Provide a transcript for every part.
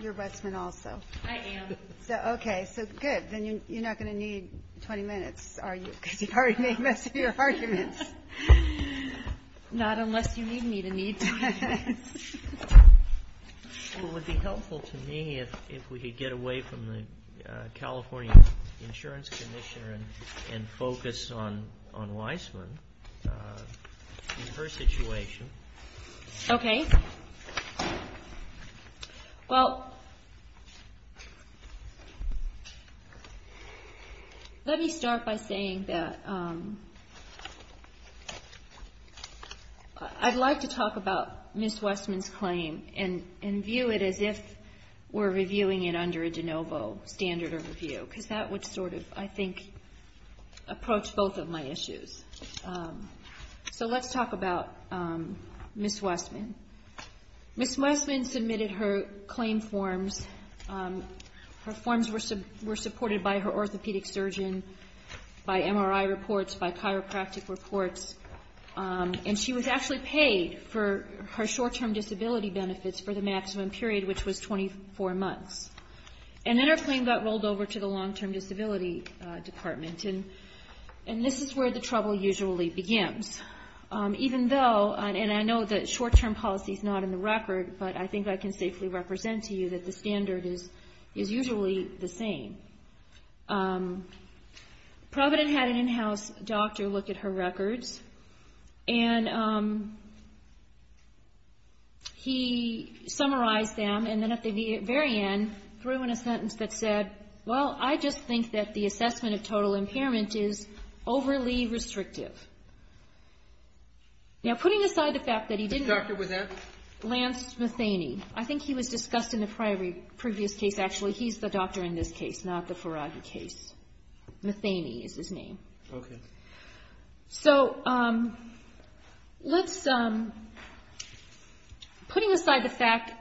You're Wessman also? I am. Okay, so good, then you're not going to need 20 minutes are you? Because you've already made most of your arguments. Not unless you need me to need 20 minutes. It would be helpful to me if we could get away from the California Insurance Commissioner and focus on Wessman and her situation. Okay. Well, let me start by saying that I'd like to talk about Ms. Wessman's claim and view it as if we're reviewing it under a de novo standard of review, because that would sort of, I think, approach both of my issues. So let's talk about Ms. Wessman. Ms. Wessman submitted her claim forms. Her forms were supported by her orthopedic surgeon, by MRI reports, by chiropractic reports, and she was actually paid for her short-term disability benefits for the maximum period, which was 24 months. And then her claim got rolled over to the long-term disability department, and this is where the trouble usually begins. Even though, and I know that short-term policy is not in the record, but I think I can safely represent to you that the standard is usually the same. Provident had an in-house doctor look at her records, and he summarized them, and then at the very end, threw in a sentence that said, well, I just think that the assessment of total impairment is overly restrictive. Now putting aside the fact that he didn't... Dr. Wessman? Lance Matheny. I think he was discussed in the previous case. Actually, he's the doctor in this case, not the Ferraghi case. Matheny is his name. Okay. So, putting aside the fact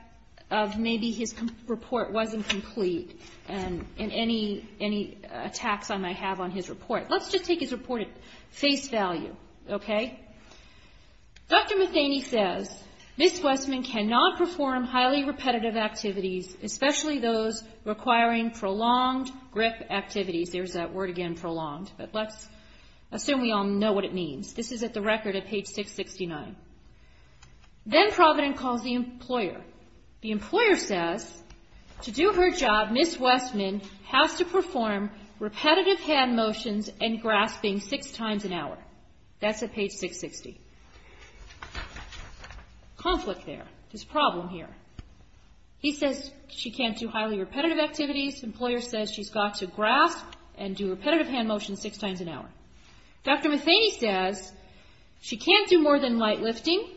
of maybe his report wasn't complete, and any attacks I might have on his report, let's just take his report at face value, okay? Dr. Matheny says, Ms. Wessman cannot perform highly repetitive activities, especially those requiring prolonged grip activities. There's that word again, prolonged, but let's assume we all know what it means. This is at the record at page 669. Then Provident calls the employer. The employer says, to do her job, Ms. Wessman has to perform repetitive hand motions and grasping six times an hour. That's at page 660. Conflict there. There's a problem here. He says she can't do highly repetitive activities. The employer says she's got to grasp and do repetitive hand motions six times an hour. Dr. Matheny says she can't do more than light lifting.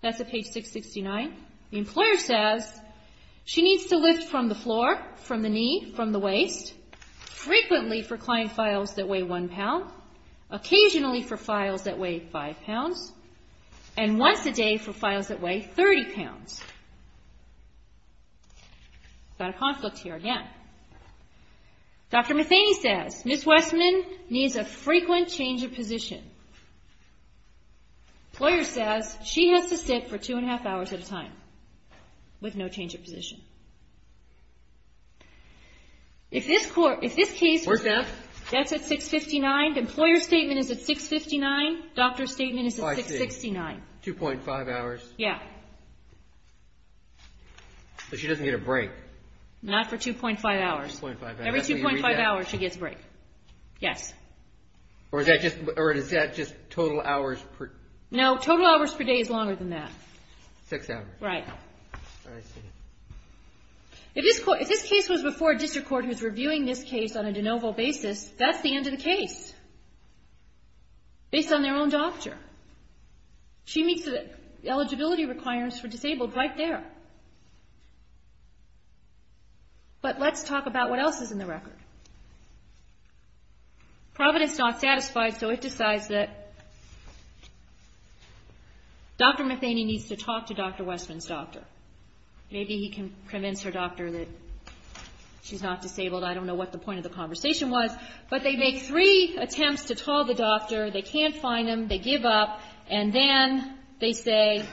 That's at page 669. The employer says she needs to lift from the floor, from the knee, from the waist, frequently for client files that weigh one pound, occasionally for files that weigh five pounds, and once a day for files that weigh 30 pounds. Got a conflict here again. Dr. Matheny says Ms. Wessman needs a frequent change of position. Employer says she has to sit for two and a half hours at a time with no change of position. If this case was at 659, the employer's statement is at 659, the doctor's statement is at 669. 2.5 hours? Yeah. So she doesn't get a break? Not for 2.5 hours. Every 2.5 hours she gets a break. Yes. Or is that just total hours per day? No, total hours per day is longer than that. Six hours. Right. I see. If this case was before a district court who's reviewing this case on a de novo basis, that's the end of the case. Based on their own doctor. She meets the eligibility requirements for disabled right there. But let's talk about what else is in the record. Providence is not satisfied, so it decides that Dr. Matheny needs to talk to Dr. Wessman's doctor. Maybe he can convince her doctor that she's not disabled. I don't know what the point of the conversation was. But they make three attempts to call the doctor. They can't find him. They give up. And then they say,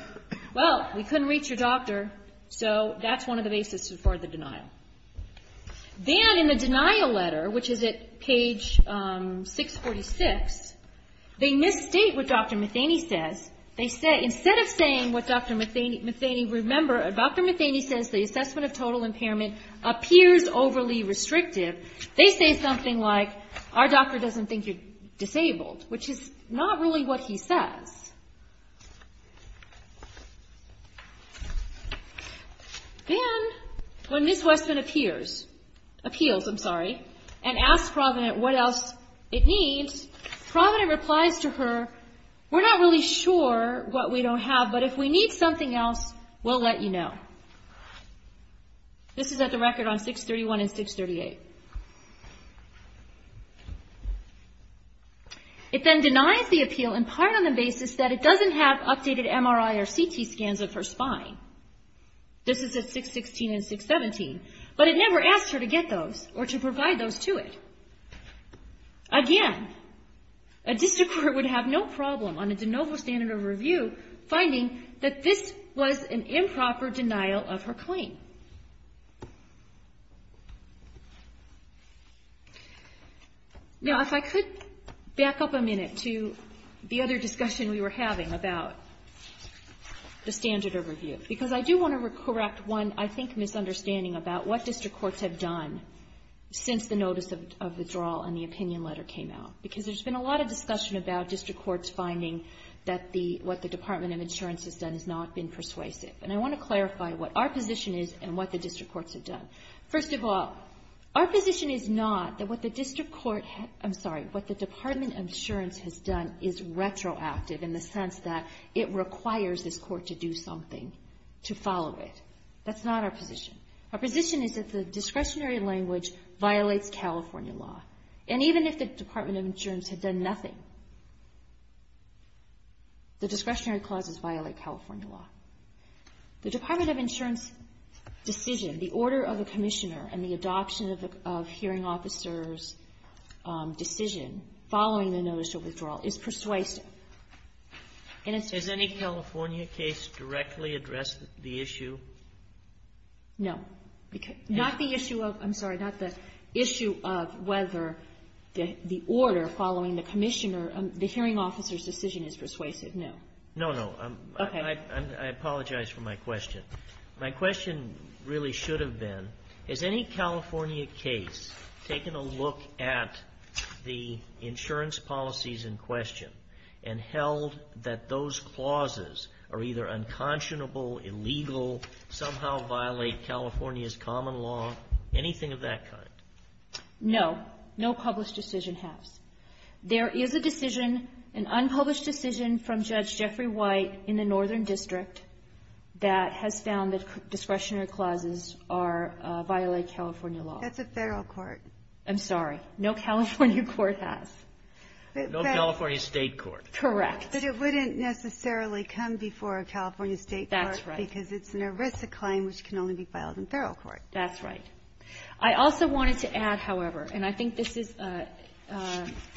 well, we couldn't reach your doctor, so that's one of the basis for the denial. Then in the denial letter, which is at page 646, they misstate what Dr. Matheny says. Instead of saying what Dr. Matheny, remember, Dr. Matheny says the assessment of total impairment appears overly restrictive. They say something like, our doctor doesn't think you're disabled, which is not really what he says. Then when Ms. Wessman appears, appeals, I'm sorry, and asks Providence what else it needs, Providence replies to her, we're not really sure what we don't have, but if we need something else, we'll let you know. This is at the record on 631 and 638. It then denies the appeal in part on the basis that it doesn't have updated MRI or CT scans of her spine. This is at 616 and 617. But it never asks her to get those or to provide those to it. Again, a district court would have no problem on a de novo standard of review finding that this was an improper denial of her claim. Now, if I could back up a minute to the other discussion we were having about the standard of review, because I do want to correct one, I think, misunderstanding about what district courts have done since the notice of withdrawal and the opinion letter came out. Because there's been a lot of discussion about district courts finding that what the Department of Insurance has done has not been persuasive. And I want to clarify what our position is and what the district courts have done. First of all, our position is not that what the district court, I'm sorry, what the Department of Insurance has done is retroactive in the sense that it requires this court to do something to follow it. That's not our position. Our position is that the discretionary language violates California law. And even if the Department of Insurance had done nothing, the discretionary clauses violate California law. The Department of Insurance decision, the order of the commissioner and the adoption of hearing officer's decision following the notice of withdrawal is persuasive. And it's true. Sotomayor, has any California case directly addressed the issue? No. Not the issue of, I'm sorry, not the issue of whether the order following the commissioner and the hearing officer's decision is persuasive, no. No, no. Okay. I apologize for my question. My question really should have been, has any California case taken a look at the insurance policies in question and held that those clauses are either unconscionable, illegal, somehow violate California's common law, anything of that kind? No. No published decision has. There is a decision, an unpublished decision from Judge Jeffrey White in the Northern District that has found that discretionary clauses violate California law. That's a federal court. I'm sorry. No California court has. No California state court. Correct. But it wouldn't necessarily come before a California state court. That's right. Because it's an ERISA claim which can only be filed in federal court. That's right. I also wanted to add, however, and I think this is an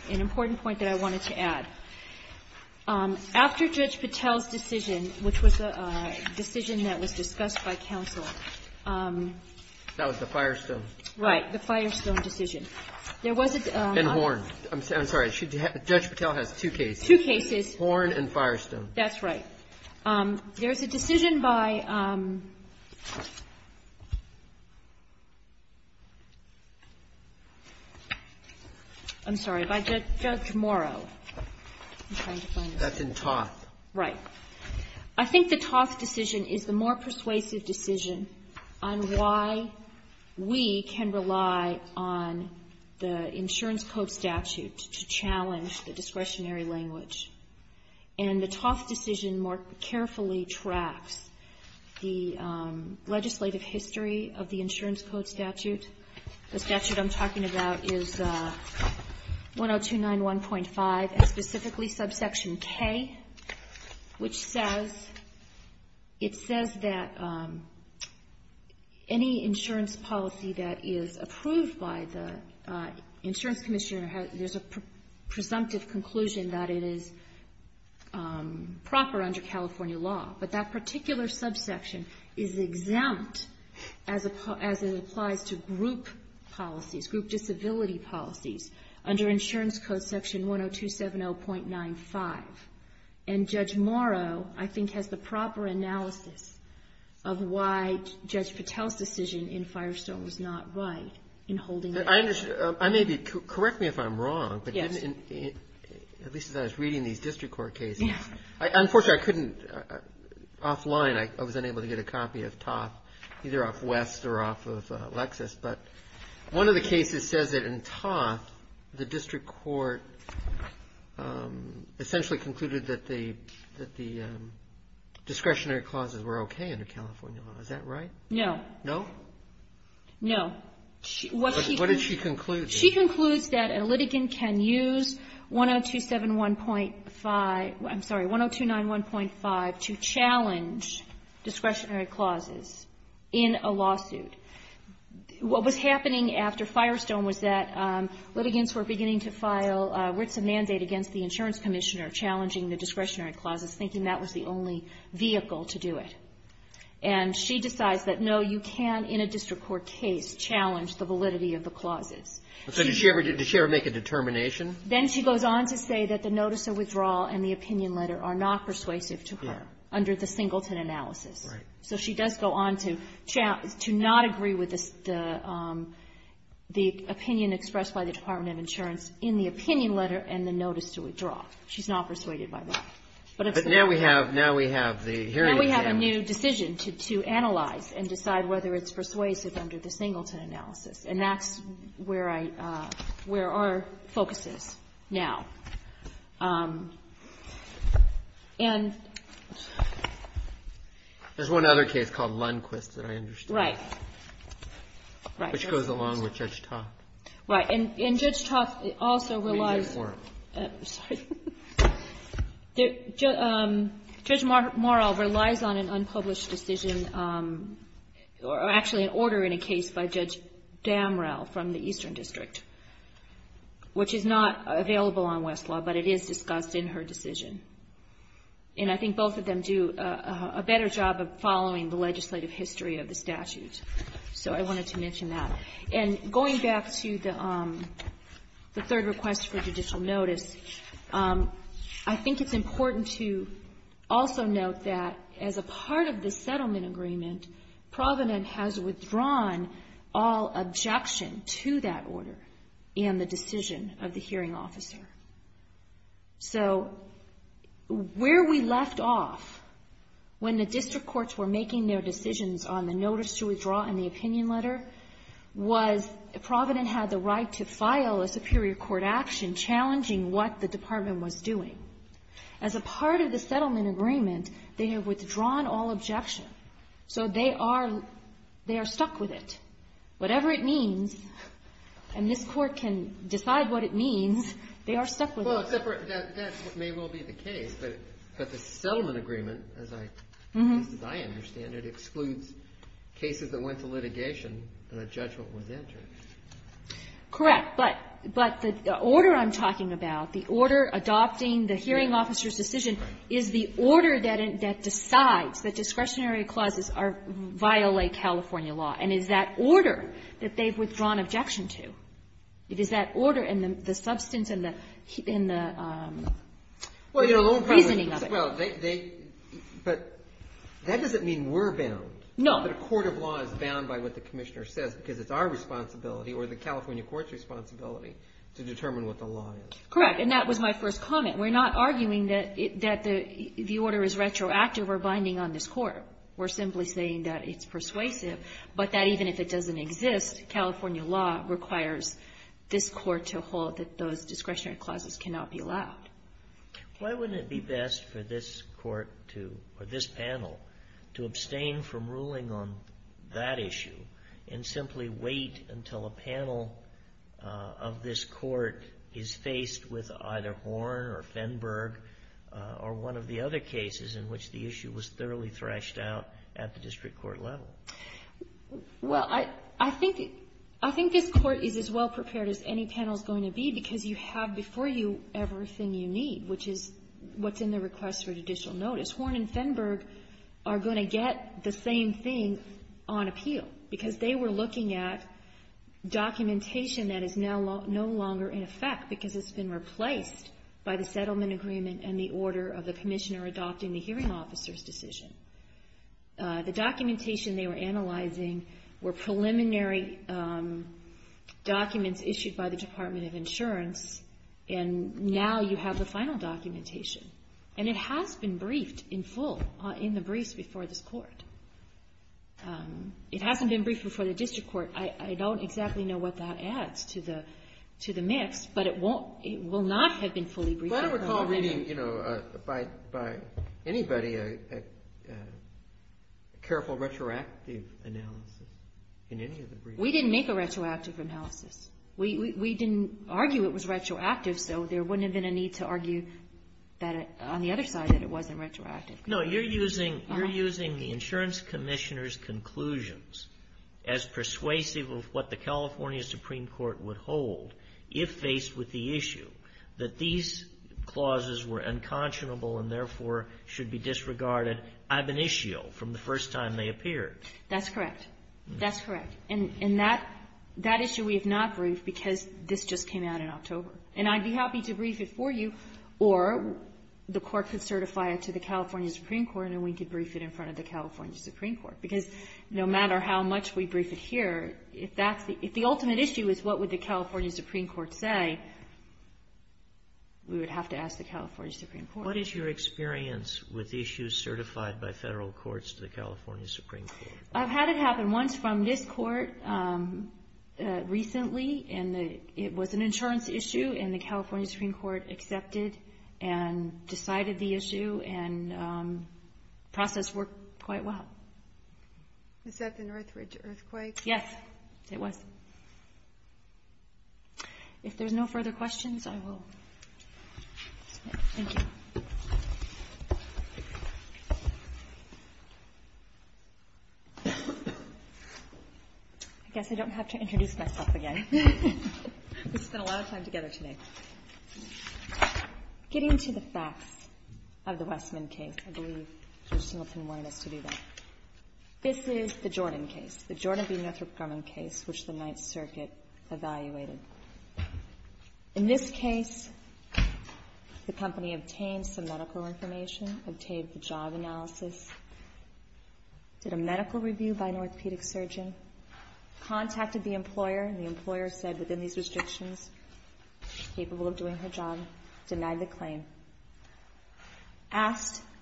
important point that I wanted to add. After Judge Patel's decision, which was a decision that was discussed by counsel. That was the Firestone. Right. The Firestone decision. There was a. And Horn. I'm sorry. Judge Patel has two cases. Two cases. Horn and Firestone. That's right. There's a decision by. I'm sorry. By Judge Morrow. That's in Toth. Right. I think the Toth decision is the more persuasive decision on why we can rely on the insurance code statute to challenge the discretionary language. And the Toth decision more carefully tracks the legislative history of the insurance code statute. The statute I'm talking about is 1029.1.5, and specifically subsection K, which says, it says that any insurance policy that is approved by the insurance commissioner, there's a presumptive conclusion that it is proper under California law. But that particular subsection is exempt as it applies to group policies, group disability policies, under insurance code section 10270.95. And Judge Morrow, I think, has the proper analysis of why Judge Patel's decision in Firestone was not right in holding it. Correct me if I'm wrong, but at least as I was reading these district court cases, unfortunately I couldn't, offline I was unable to get a copy of Toth, either off West or off of Lexis. But one of the cases says that in Toth, the district court essentially concluded that the discretionary clauses were okay under California law. Is that right? No. No? No. What did she conclude? She concludes that a litigant can use 10271.5, I'm sorry, 1029.1.5 to challenge discretionary clauses in a lawsuit. What was happening after Firestone was that litigants were beginning to file a written mandate against the insurance commissioner challenging the discretionary clauses, thinking that was the only vehicle to do it. And she decides that, no, you can in a district court case challenge the validity of the clauses. So did she ever make a determination? Then she goes on to say that the notice of withdrawal and the opinion letter are not persuasive to her under the Singleton analysis. Right. So she does go on to not agree with the opinion expressed by the Department of Insurance in the opinion letter and the notice to withdraw. She's not persuaded by that. But now we have the hearing exam. And now we have a new decision to analyze and decide whether it's persuasive under the Singleton analysis. And that's where our focus is now. And ---- There's one other case called Lundquist that I understand. Right. Right. Which goes along with Judge Toth. Right. And Judge Toth also relies ---- Let me do it for him. Sorry. Judge Morrell relies on an unpublished decision or actually an order in a case by Judge Damrell from the Eastern District, which is not available on Westlaw, but it is discussed in her decision. And I think both of them do a better job of following the legislative history of the statute. So I wanted to mention that. And going back to the third request for judicial notice, I think it's important to also note that as a part of the settlement agreement, Provident has withdrawn all objection to that order and the decision of the hearing officer. So where we left off when the district courts were making their decisions on the case was Provident had the right to file a superior court action challenging what the department was doing. As a part of the settlement agreement, they have withdrawn all objection. So they are stuck with it. Whatever it means, and this court can decide what it means, they are stuck with it. Well, that may well be the case, but the settlement agreement, at least as I understand it, excludes cases that went to litigation and a judgment was entered. Correct. But the order I'm talking about, the order adopting the hearing officer's decision is the order that decides that discretionary clauses violate California law. And it's that order that they've withdrawn objection to. But that doesn't mean we're bound. No. That a court of law is bound by what the commissioner says because it's our responsibility or the California court's responsibility to determine what the law is. Correct. And that was my first comment. We're not arguing that the order is retroactive or binding on this court. We're simply saying that it's persuasive, but that even if it doesn't exist, California law requires this court to hold that those discretionary clauses cannot be allowed. Why wouldn't it be best for this panel to abstain from ruling on that issue and simply wait until a panel of this court is faced with either Horn or Fenberg or one of the other cases in which the issue was thoroughly threshed out at the district court level? Well, I think this court is as well prepared as any panel is going to be because you have before you everything you need, which is what's in the request for judicial notice. Horn and Fenberg are going to get the same thing on appeal because they were looking at documentation that is no longer in effect because it's been replaced by the settlement agreement and the order of the commissioner adopting the hearing officer's decision. The documentation they were analyzing were preliminary documents issued by the Department of Insurance, and now you have the final documentation. And it has been briefed in full in the briefs before this court. It hasn't been briefed before the district court. I don't exactly know what that adds to the mix, but it will not have been fully briefed. I don't recall reading by anybody a careful retroactive analysis in any of the briefs. We didn't make a retroactive analysis. We didn't argue it was retroactive, so there wouldn't have been a need to argue on the other side that it wasn't retroactive. No, you're using the insurance commissioner's conclusions as persuasive of what the California Supreme Court would hold if faced with the issue, that these clauses were unconscionable and, therefore, should be disregarded ab initio, from the first time they appeared. That's correct. That's correct. And that issue we have not briefed because this just came out in October. And I'd be happy to brief it for you, or the Court could certify it to the California Supreme Court, and we could brief it in front of the California Supreme Court. Because no matter how much we brief it here, if that's the ultimate issue is what would the California Supreme Court say, we would have to ask the California Supreme Court. What is your experience with issues certified by federal courts to the California Supreme Court? I've had it happen once from this court recently, and it was an insurance issue, and the California Supreme Court accepted and decided the issue, and the process worked quite well. Was that the Northridge earthquake? Yes, it was. If there's no further questions, I will. Thank you. I guess I don't have to introduce myself again. We spent a lot of time together today. Getting to the facts of the Westman case, I believe Judge Singleton wanted us to do that. This is the Jordan case. It's the Jordan v. Northrop Grumman case, which the Ninth Circuit evaluated. In this case, the company obtained some medical information, obtained the job analysis, did a medical review by an orthopedic surgeon, contacted the employer, and the employer said within these restrictions she's capable of doing her job, denied the claim.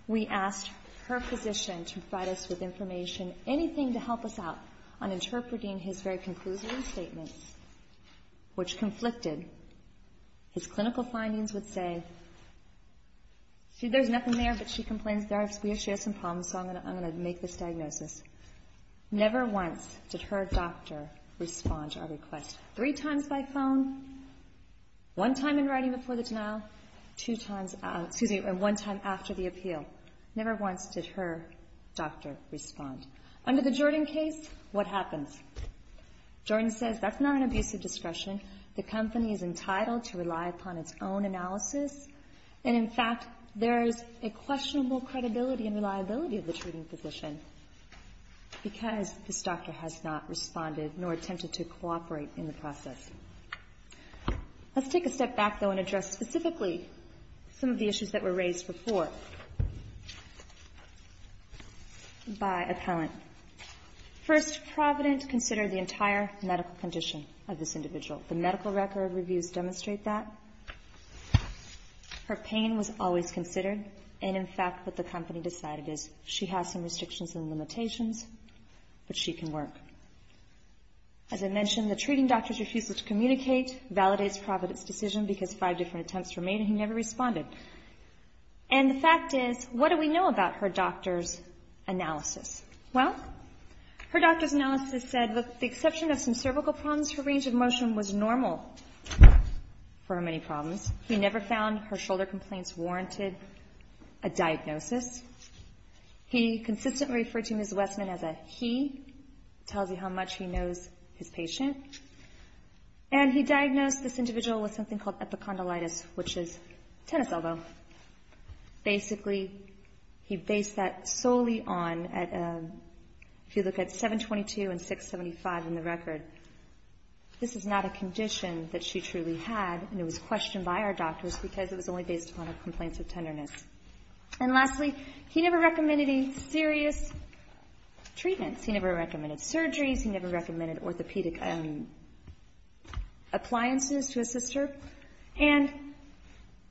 We asked her physician to provide us with information, anything to help us out on interpreting his very conclusive statements, which conflicted. His clinical findings would say, see, there's nothing there, but she complains there. She has some problems, so I'm going to make this diagnosis. Never once did her doctor respond to our request. Three times by phone, one time in writing before the denial, and one time after the appeal. Never once did her doctor respond. Under the Jordan case, what happens? Jordan says that's not an abuse of discretion. The company is entitled to rely upon its own analysis, and, in fact, there is a questionable credibility and reliability of the treating physician because this doctor has not responded nor attempted to cooperate in the process. Let's take a step back, though, and address specifically some of the issues that were raised before by appellant. First, Provident considered the entire medical condition of this individual. The medical record reviews demonstrate that. Her pain was always considered, and, in fact, what the company decided is she has some restrictions and limitations, but she can work. As I mentioned, the treating doctor refuses to communicate, validates Provident's decision because five different attempts were made, and he never responded. And the fact is, what do we know about her doctor's analysis? Well, her doctor's analysis said with the exception of some cervical problems, her range of motion was normal for her many problems. He never found her shoulder complaints warranted a diagnosis. He consistently referred to Ms. Westman as a he, tells you how much he knows his patient. And he diagnosed this individual with something called epicondylitis, which is tennis elbow. Basically, he based that solely on, if you look at 722 and 675 in the record, this is not a condition that she truly had, and it was questioned by our doctors because it was only based upon her complaints of tenderness. And lastly, he never recommended any serious treatments. He never recommended surgeries. He never recommended orthopedic appliances to his sister. And,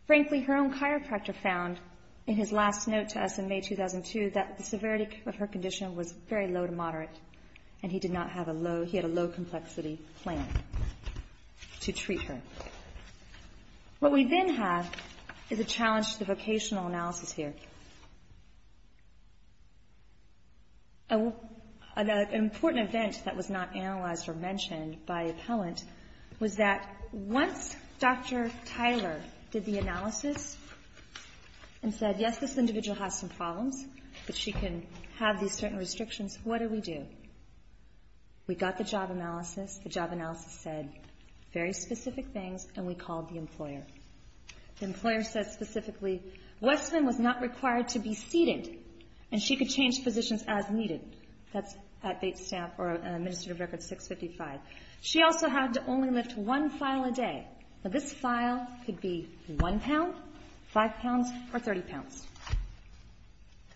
frankly, her own chiropractor found in his last note to us in May 2002 that the severity of her condition was very low to moderate, and he did not have a low, he had a low-complexity plan to treat her. What we then have is a challenge to the vocational analysis here. An important event that was not analyzed or mentioned by appellant was that once Dr. Tyler did the analysis and said, yes, this individual has some problems, but she can have these certain restrictions, what do we do? We got the job analysis. The job analysis said very specific things, and we called the employer. The employer said specifically, Westman was not required to be seated, and she could change positions as needed. That's administrative record 655. She also had to only lift one file a day. Now, this file could be one pound, five pounds, or 30 pounds.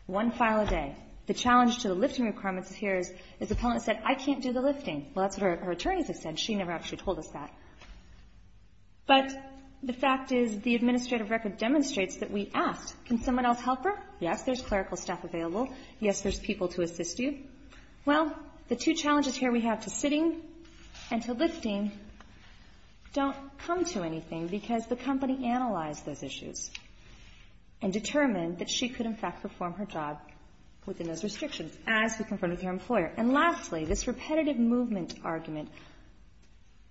One file a day. The challenge to the lifting requirements here is the appellant said, I can't do the lifting. Well, that's what her attorneys have said. She never actually told us that. But the fact is the administrative record demonstrates that we asked, can someone else help her? Yes, there's clerical staff available. Yes, there's people to assist you. Well, the two challenges here we have to sitting and to lifting don't come to anything because the company analyzed those issues and determined that she could, in fact, perform her job within those restrictions as we confronted her employer. And lastly, this repetitive movement argument,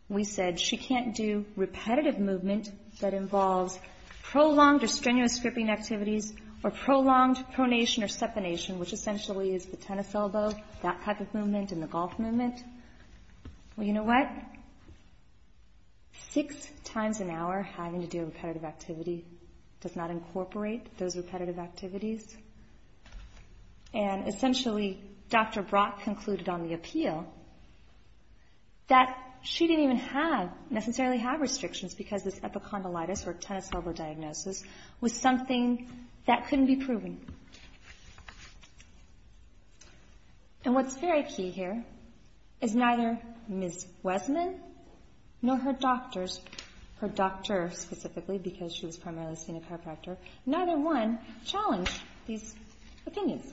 we said she can't do repetitive movement that involves prolonged or strenuous gripping activities or prolonged pronation or seponation, which essentially is the tennis elbow, that type of movement, and the golf movement. Well, you know what? Six times an hour having to do repetitive activity does not incorporate those repetitive activities. And essentially, Dr. Brock concluded on the appeal that she didn't even have, necessarily have restrictions because this epicondylitis or tennis elbow diagnosis was something that couldn't be proven. And what's very key here is neither Ms. Wesman nor her doctors, her doctor specifically because she was primarily a senior chiropractor, neither one challenged these opinions.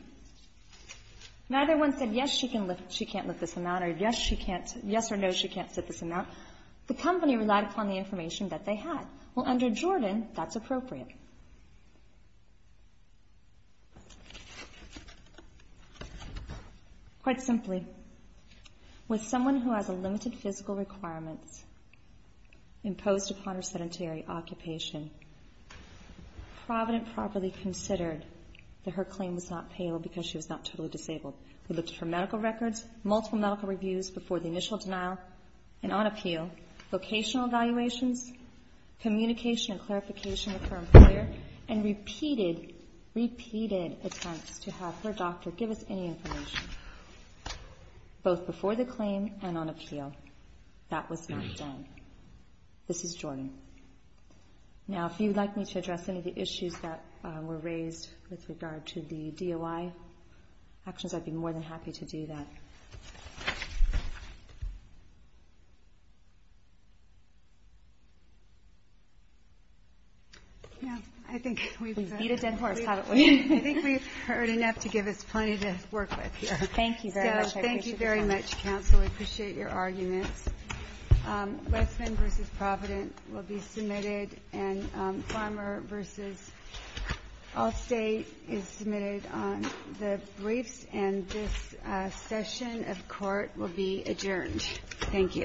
Neither one said, yes, she can't lift this amount, or yes, she can't, yes or no, she can't sit this amount. The company relied upon the information that they had. Well, under Jordan, that's appropriate. Quite simply, with someone who has a limited physical requirement imposed upon her sedentary occupation, Provident properly considered that her claim was not payable because she was not totally disabled. We looked at her medical records, multiple medical reviews before the initial denial and on appeal, vocational evaluations, communication and clarification with her employer, and repeated, repeated attempts to have her doctor give us any information, both before the claim and on appeal. That was not done. This is Jordan. Now, if you'd like me to address any of the issues that were raised with regard to the DOI actions, I'd be more than happy to do that. We beat a dead horse, haven't we? I think we've heard enough to give us plenty to work with here. Thank you very much. Thank you very much, counsel. We appreciate your arguments. Westman v. Provident will be submitted, and Farmer v. Allstate is submitted on the briefs, and this session of court will be adjourned. Thank you.